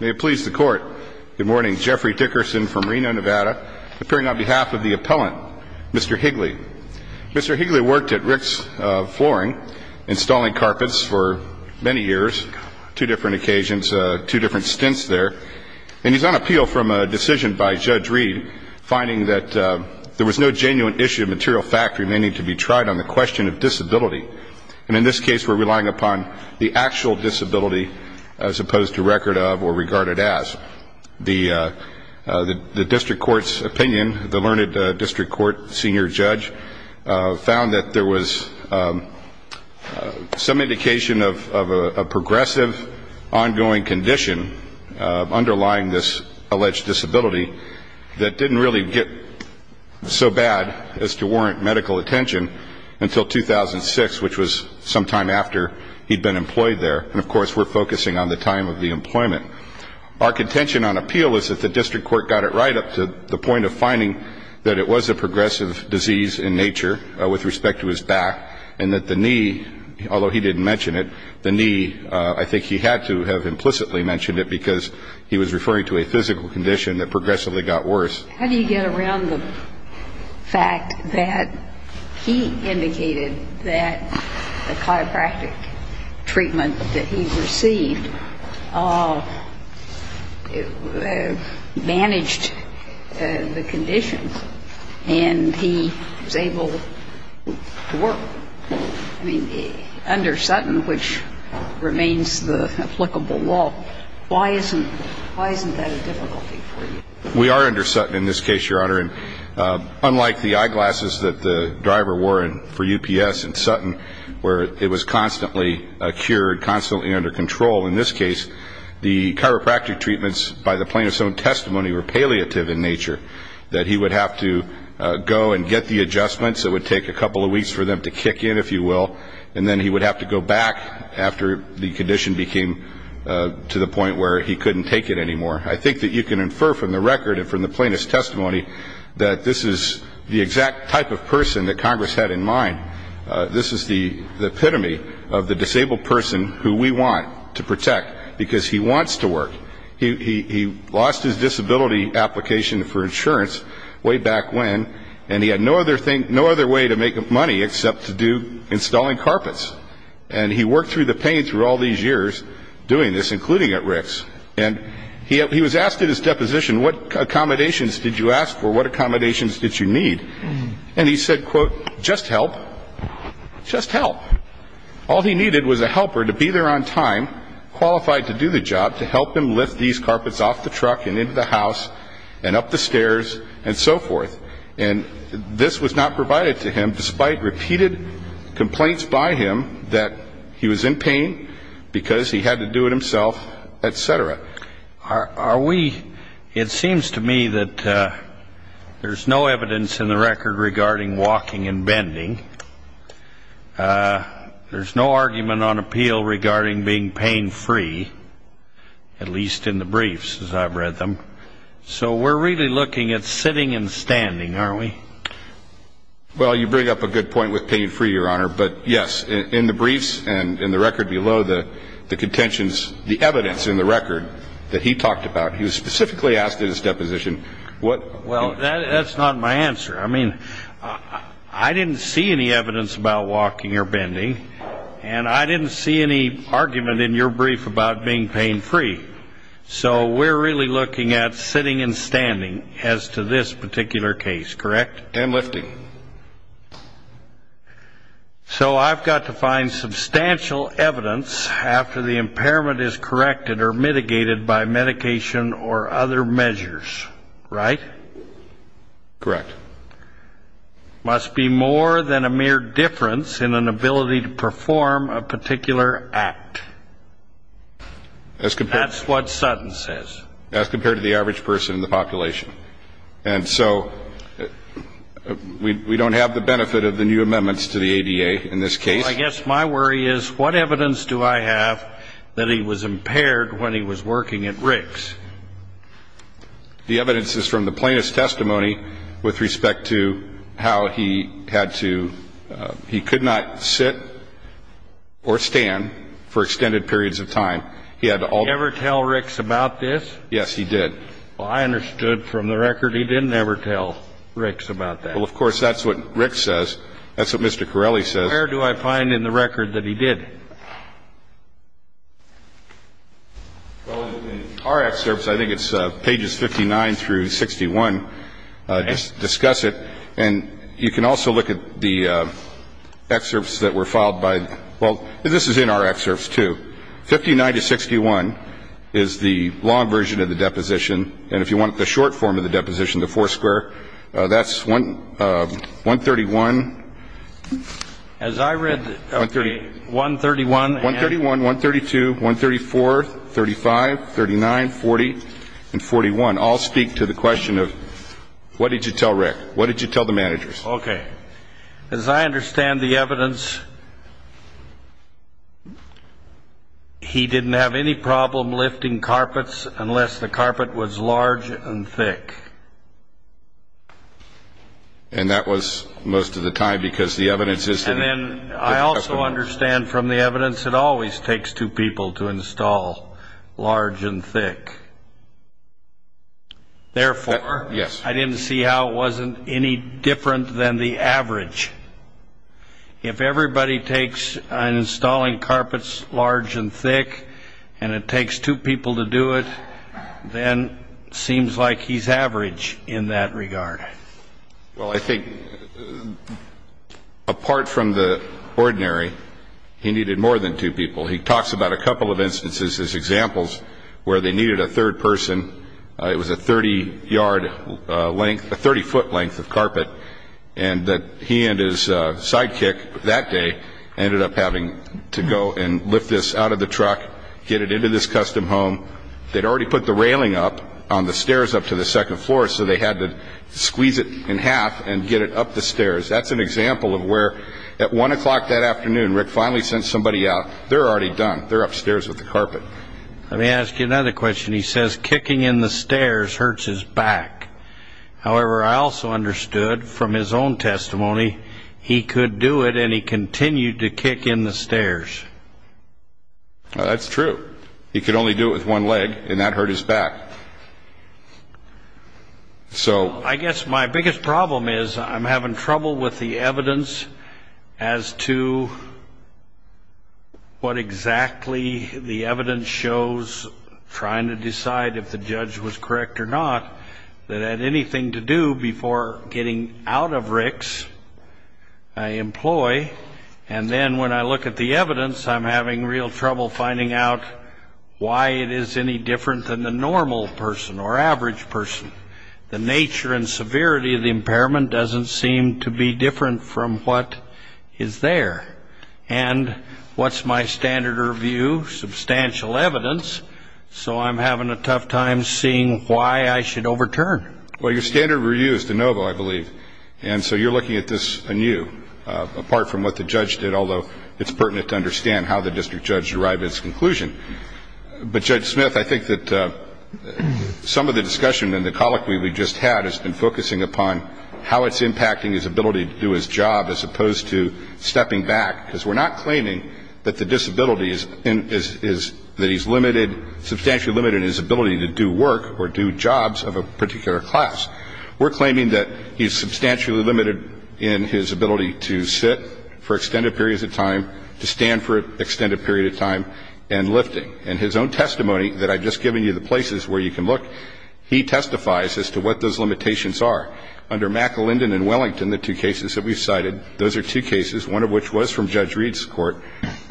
May it please the Court, good morning, Jeffrey Dickerson from Reno, Nevada, appearing on behalf of the appellant, Mr. Higley. Mr. Higley worked at Rick's Flooring, installing carpets for many years, two different occasions, two different stints there, and he's on appeal from a decision by Judge Reed, finding that there was no genuine issue of material fact remaining to be tried on the question of disability. And in this case, we're relying upon the actual disability as opposed to record of or regarded as. The District Court's opinion, the Learned District Court Senior Judge, found that there was some indication of a progressive ongoing condition underlying this alleged disability that didn't really get so bad as to warrant medical attention until 2006, which was sometime after he'd been employed there. And of course, we're focusing on the time of the employment. Our contention on appeal is that the District Court got it right up to the point of finding that it was a progressive disease in nature with respect to his back, and that the knee, although he didn't mention it, the knee, I think he had to have implicitly mentioned it because he was referring to a physical condition that progressively got worse. How do you get around the fact that he indicated that the chiropractic treatment that he received managed the condition, and he was able to work? I mean, under Sutton, which remains the applicable law, why isn't that a difficulty for you? We are under Sutton in this case, Your Honor, and unlike the eyeglasses that the driver wore for UPS in Sutton, where it was constantly cured, constantly under control in this case, the chiropractic treatments by the plaintiff's own testimony were palliative in nature, that he would have to go and get the adjustments. It would take a couple of weeks for them to kick in, if you will, and then he would have to go back after the condition became to the record and from the plaintiff's testimony that this is the exact type of person that Congress had in mind. This is the epitome of the disabled person who we want to protect because he wants to work. He lost his disability application for insurance way back when, and he had no other way to make money except to do installing carpets, and he worked through the pain through all these years doing this, including at Rick's, and he was asked at his deposition, what accommodations did you ask for? What accommodations did you need? And he said, quote, just help. Just help. All he needed was a helper to be there on time, qualified to do the job, to help him lift these carpets off the truck and into the house and up the stairs and so forth, and this was not provided to him despite repeated complaints by him that he was in pain because he had to do it himself, et cetera. Are we, it seems to me that there's no evidence in the record regarding walking and bending. There's no argument on appeal regarding being pain-free, at least in the briefs as I've read them. So we're really looking at sitting and standing, aren't we? Well, you bring up a good point with pain-free, Your Honor, but yes, in the briefs and in the record below, the contentions, the evidence in the record that he talked about, he was specifically asked at his deposition, what... Well, that's not my answer. I mean, I didn't see any evidence about walking or bending, and I didn't see any argument in your brief about being pain-free. So we're really looking at sitting and standing as to this particular case, correct? And lifting. So I've got to find substantial evidence after the impairment is corrected or mitigated by medication or other measures, right? Correct. Must be more than a mere difference in an ability to perform a particular act. That's what Sutton says. As compared to the average person in the population. And so we don't have the benefit of the new amendments to the ADA in this case. Well, I guess my worry is, what evidence do I have that he was impaired when he was working at Rick's? The evidence is from the plaintiff's testimony with respect to how he had to, he could not sit or stand for extended periods of time. He had to... And then he had to sit for a long time. Did he ever tell Rick's about this? Yes, he did. Well, I understood from the record he didn't ever tell Rick's about that. Well, of course, that's what Rick says. That's what Mr. Corelli says. Where do I find in the record that he did? Well, in our excerpts, I think it's pages 59 through 61, just discuss it, and you can also look at the excerpts that were filed by, well, this is in our excerpts, too. 59 to 61 is the long version of the deposition, and if you want the short form of the deposition, the four square, that's 131. As I read 131 and... 131, 132, 134, 35, 39, 40, and 41 all speak to the question of what did you tell Rick? What did you tell the managers? Okay. As I understand the evidence, he didn't have any problem lifting carpets unless the carpet was large and thick. And that was most of the time because the evidence is... And then I also understand from the evidence it always takes two people to install large and thick. Therefore... Yes. I didn't see how it wasn't any different than the average. If everybody takes installing carpets large and thick and it takes two people to do it, then it seems like he's average in that regard. Well, I think apart from the ordinary, he needed more than two people. He talks about a couple of instances as examples where they needed a third person. It was a 30-foot length of carpet. And he and his sidekick that day ended up having to go and lift this out of the truck, get it into this custom home. They'd already put the railing up on the stairs up to the second floor, so they had to squeeze it in half and get it up the stairs. That's an example of where at 1 o'clock that afternoon Rick finally sent somebody out. They're already done. They're upstairs with the carpet. Let me ask you another question. He says kicking in the stairs hurts his back. However, I also understood from his own testimony he could do it and he continued to kick in the stairs. That's true. He could only do it with one leg, and that hurt his back. So I guess my biggest problem is I'm having trouble with the evidence as to what exactly the evidence shows, trying to decide if the judge was correct or not, that had anything to do before getting out of Rick's employ. And then when I look at the evidence, I'm having real trouble finding out why it is any different than the normal person or average person. The nature and severity of the impairment doesn't seem to be different from what is there. And what's my standard review? Substantial evidence. So I'm having a tough time seeing why I should overturn. Well, your standard review is de novo, I believe. And so you're looking at this anew, apart from what the judge did, although it's pertinent to understand how the district judge derived its conclusion. But, Judge Smith, I think that some of the discussion in the colloquy we just had has been focusing upon how it's impacting his ability to do his job as opposed to stepping back, because we're not claiming that the disability is that he's limited, substantially limited his ability to do work or do jobs of a particular class. We're claiming that he's substantially limited in his ability to sit for extended periods of time, to stand for an extended period of time, and lifting. And his own testimony that I've just given you the places where you can look, he testifies as to what those limitations are. Under McElinden and Wellington, the two cases that we've cited, those are two cases, one of which was from Judge Reed's court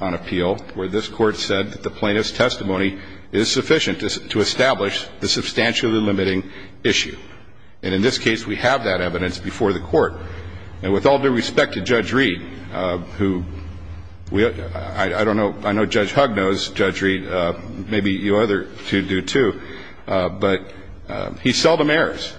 on appeal, where this Court said that the plaintiff's testimony is sufficient to establish the substantially limiting issue. And in this case, we have that evidence before the Court. And with all due respect to Judge Reed, who I don't know, I know Judge Hugg knows, Judge Reed, maybe you other two do, too, but he seldom errors.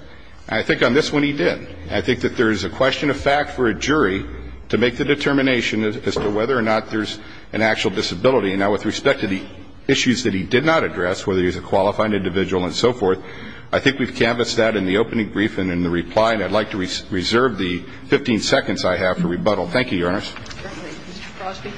And I think on this one he did. I think that there is a question of fact for a jury to make the determination as to whether or not there's an actual disability. And now with respect to the issues that he did not address, whether he's a qualifying individual and so forth, I think we've canvassed that in the opening brief and in the reply. And I'd like to reserve the 15 seconds I have for rebuttal. Thank you, Your Honors. Mr. Crosby.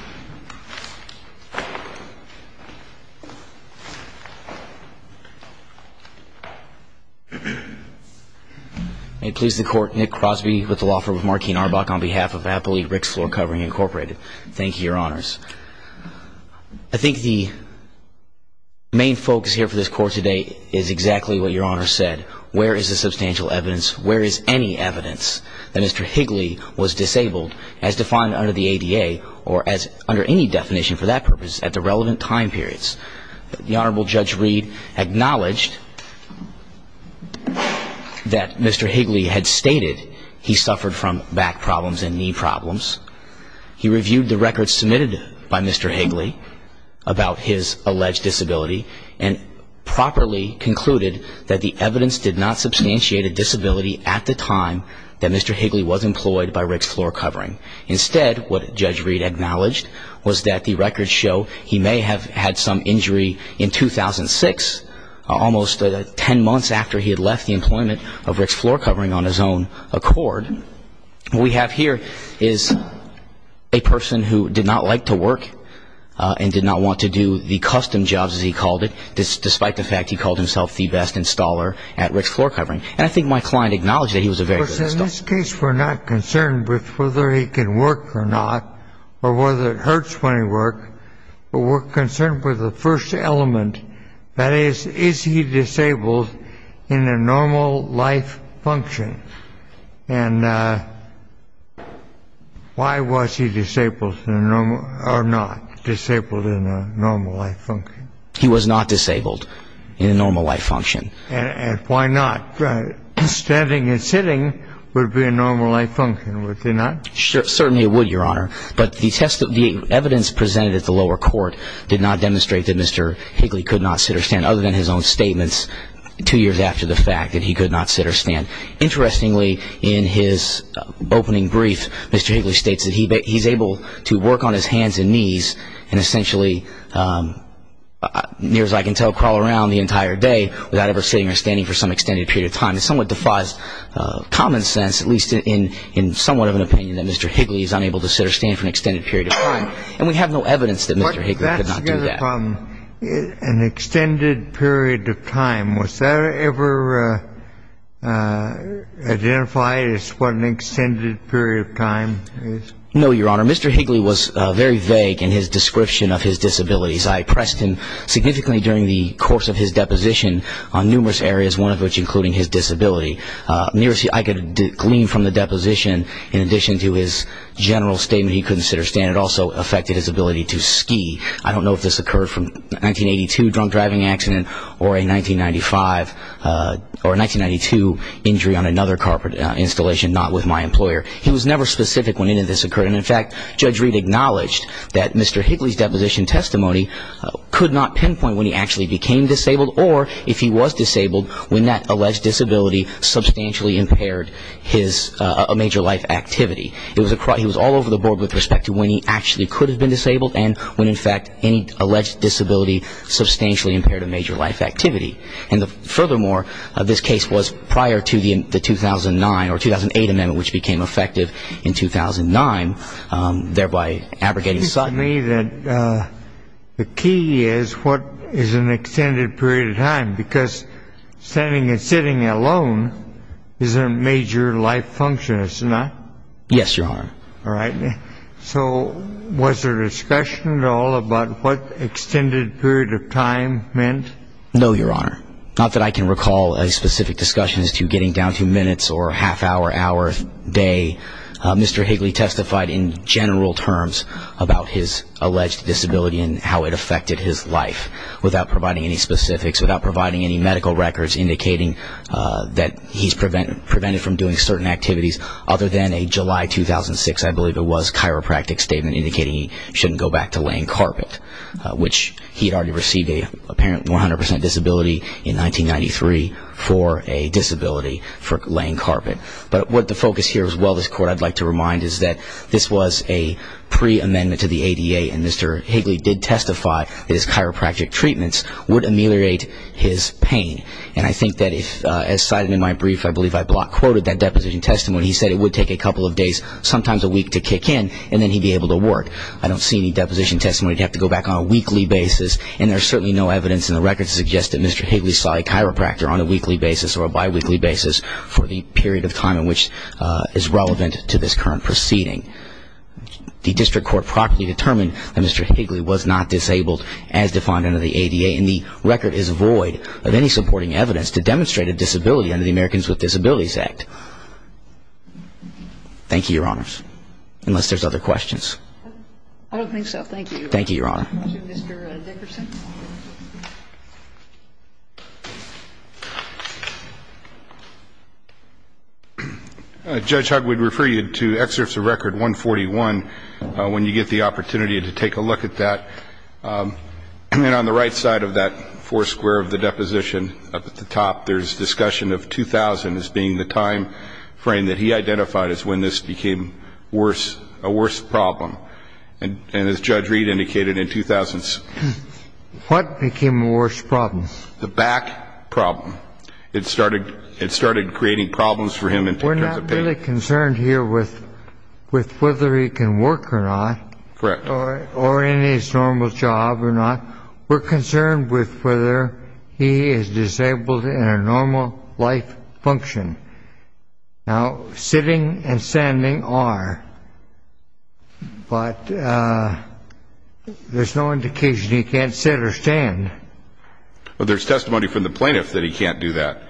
May it please the Court, Nick Crosby with the law firm of Markeen Arbach on behalf of Appley Ricks Floor Covering, Incorporated. Thank you, Your Honors. I think the main focus here for this Court today is exactly what Your Honor said. Where is the substantial evidence? Where is any evidence that Mr. Higley was disabled as defined under the ADA or as under any definition for that purpose at the relevant time periods? The Honorable Judge Reed acknowledged that Mr. Higley had stated he suffered from back problems and knee problems. He reviewed the records submitted by Mr. Higley about his alleged disability and properly concluded that the evidence did not substantiate a disability at the time that Mr. Higley was employed by Ricks Floor Covering. Instead, what Judge Reed acknowledged was that the records show he may have had some injury in 2006, almost 10 months after he had left the employment of Ricks Floor Covering on his own accord. What we have here is a person who did not like to work and did not want to do the custom jobs, as he called it, despite the fact he called himself the best installer at Ricks Floor Covering. And I think my client acknowledged that he was a very good installer. In this case, we're not concerned with whether he can work or not or whether it hurts when he works, but we're concerned with the first element, that is, is he disabled in a normal life function? And why was he disabled or not disabled in a normal life function? He was not disabled in a normal life function. And why not? Standing and sitting would be a normal life function, would they not? Certainly it would, Your Honor. But the evidence presented at the lower court did not demonstrate that Mr. Higley could not sit or stand, other than his own statements two years after the fact that he could not sit or stand. Interestingly, in his opening brief, Mr. Higley states that he's able to work on his hands and knees and essentially, near as I can tell, crawl around the entire day without ever sitting or standing for some extended period of time. It somewhat defies common sense, at least in somewhat of an opinion, that Mr. Higley is unable to sit or stand for an extended period of time. And we have no evidence that Mr. Higley could not do that. An extended period of time, was that ever identified as what an extended period of time is? No, Your Honor. Your Honor, Mr. Higley was very vague in his description of his disabilities. I pressed him significantly during the course of his deposition on numerous areas, one of which including his disability. I could glean from the deposition, in addition to his general statement he couldn't sit or stand, it also affected his ability to ski. I don't know if this occurred from a 1982 drunk driving accident or a 1995 or a 1992 injury on another car installation, not with my employer. He was never specific when any of this occurred. And, in fact, Judge Reed acknowledged that Mr. Higley's deposition testimony could not pinpoint when he actually became disabled or if he was disabled when that alleged disability substantially impaired his major life activity. He was all over the board with respect to when he actually could have been disabled and when, in fact, any alleged disability substantially impaired a major life activity. And, furthermore, this case was prior to the 2009 or 2008 amendment, which became effective in 2009, thereby abrogating such. It seems to me that the key is what is an extended period of time, because standing and sitting alone is a major life function, isn't it? Yes, Your Honor. All right. So was there discussion at all about what extended period of time meant? No, Your Honor. Not that I can recall a specific discussion as to getting down to minutes or half hour, hour, day. Mr. Higley testified in general terms about his alleged disability and how it affected his life without providing any specifics, without providing any medical records indicating that he's prevented from doing certain activities other than a July 2006, I believe it was, chiropractic statement indicating he shouldn't go back to laying carpet, which he had already received an apparent 100% disability in 1993 for a disability for laying carpet. But what the focus here as well, this Court, I'd like to remind is that this was a pre-amendment to the ADA and Mr. Higley did testify that his chiropractic treatments would ameliorate his pain. And I think that if, as cited in my brief, I believe I block quoted that deposition testimony, he said it would take a couple of days, sometimes a week, to kick in and then he'd be able to work. But I don't see any deposition testimony to have to go back on a weekly basis and there's certainly no evidence in the records to suggest that Mr. Higley saw a chiropractor on a weekly basis or a biweekly basis for the period of time in which is relevant to this current proceeding. The District Court properly determined that Mr. Higley was not disabled as defined under the ADA and the record is void of any supporting evidence to demonstrate a disability under the Americans with Disabilities Act. Thank you, Your Honors, unless there's other questions. I don't think so. Thank you. Thank you, Your Honor. Mr. Dickerson. Judge, I would refer you to excerpts of record 141 when you get the opportunity to take a look at that. And on the right side of that four square of the deposition up at the top, there's discussion of 2000 as being the time frame that he identified as when this became a worse problem. And as Judge Reed indicated, in 2000s. What became a worse problem? The back problem. It started creating problems for him in terms of pain. We're not really concerned here with whether he can work or not. Correct. Or in his normal job or not. We're concerned with whether he is disabled in a normal life function. Now, sitting and standing are, but there's no indication he can't sit or stand. Well, there's testimony from the plaintiff that he can't do that.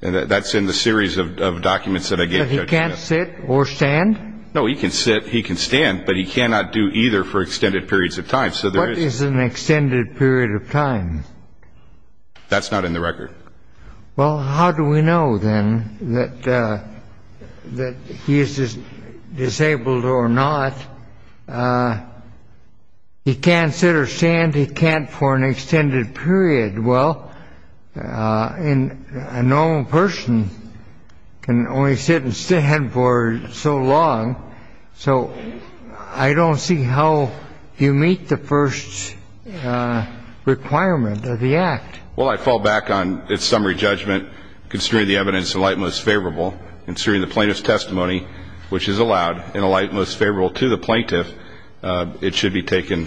That's in the series of documents that I gave you. He can't sit or stand? No, he can sit, he can stand, but he cannot do either for extended periods of time. What is an extended period of time? That's not in the record. Well, how do we know, then, that he is disabled or not? He can't sit or stand? He can't for an extended period. Well, a normal person can only sit and stand for so long, so I don't see how you meet the first requirement of the Act. Well, I fall back on its summary judgment, considering the evidence in the light most favorable, and considering the plaintiff's testimony, which is allowed in the light most favorable to the plaintiff, it should be taken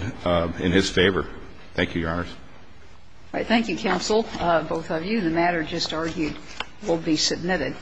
in his favor. Thank you, Your Honors. All right. Thank you, counsel, both of you. The matter just argued will be submitted.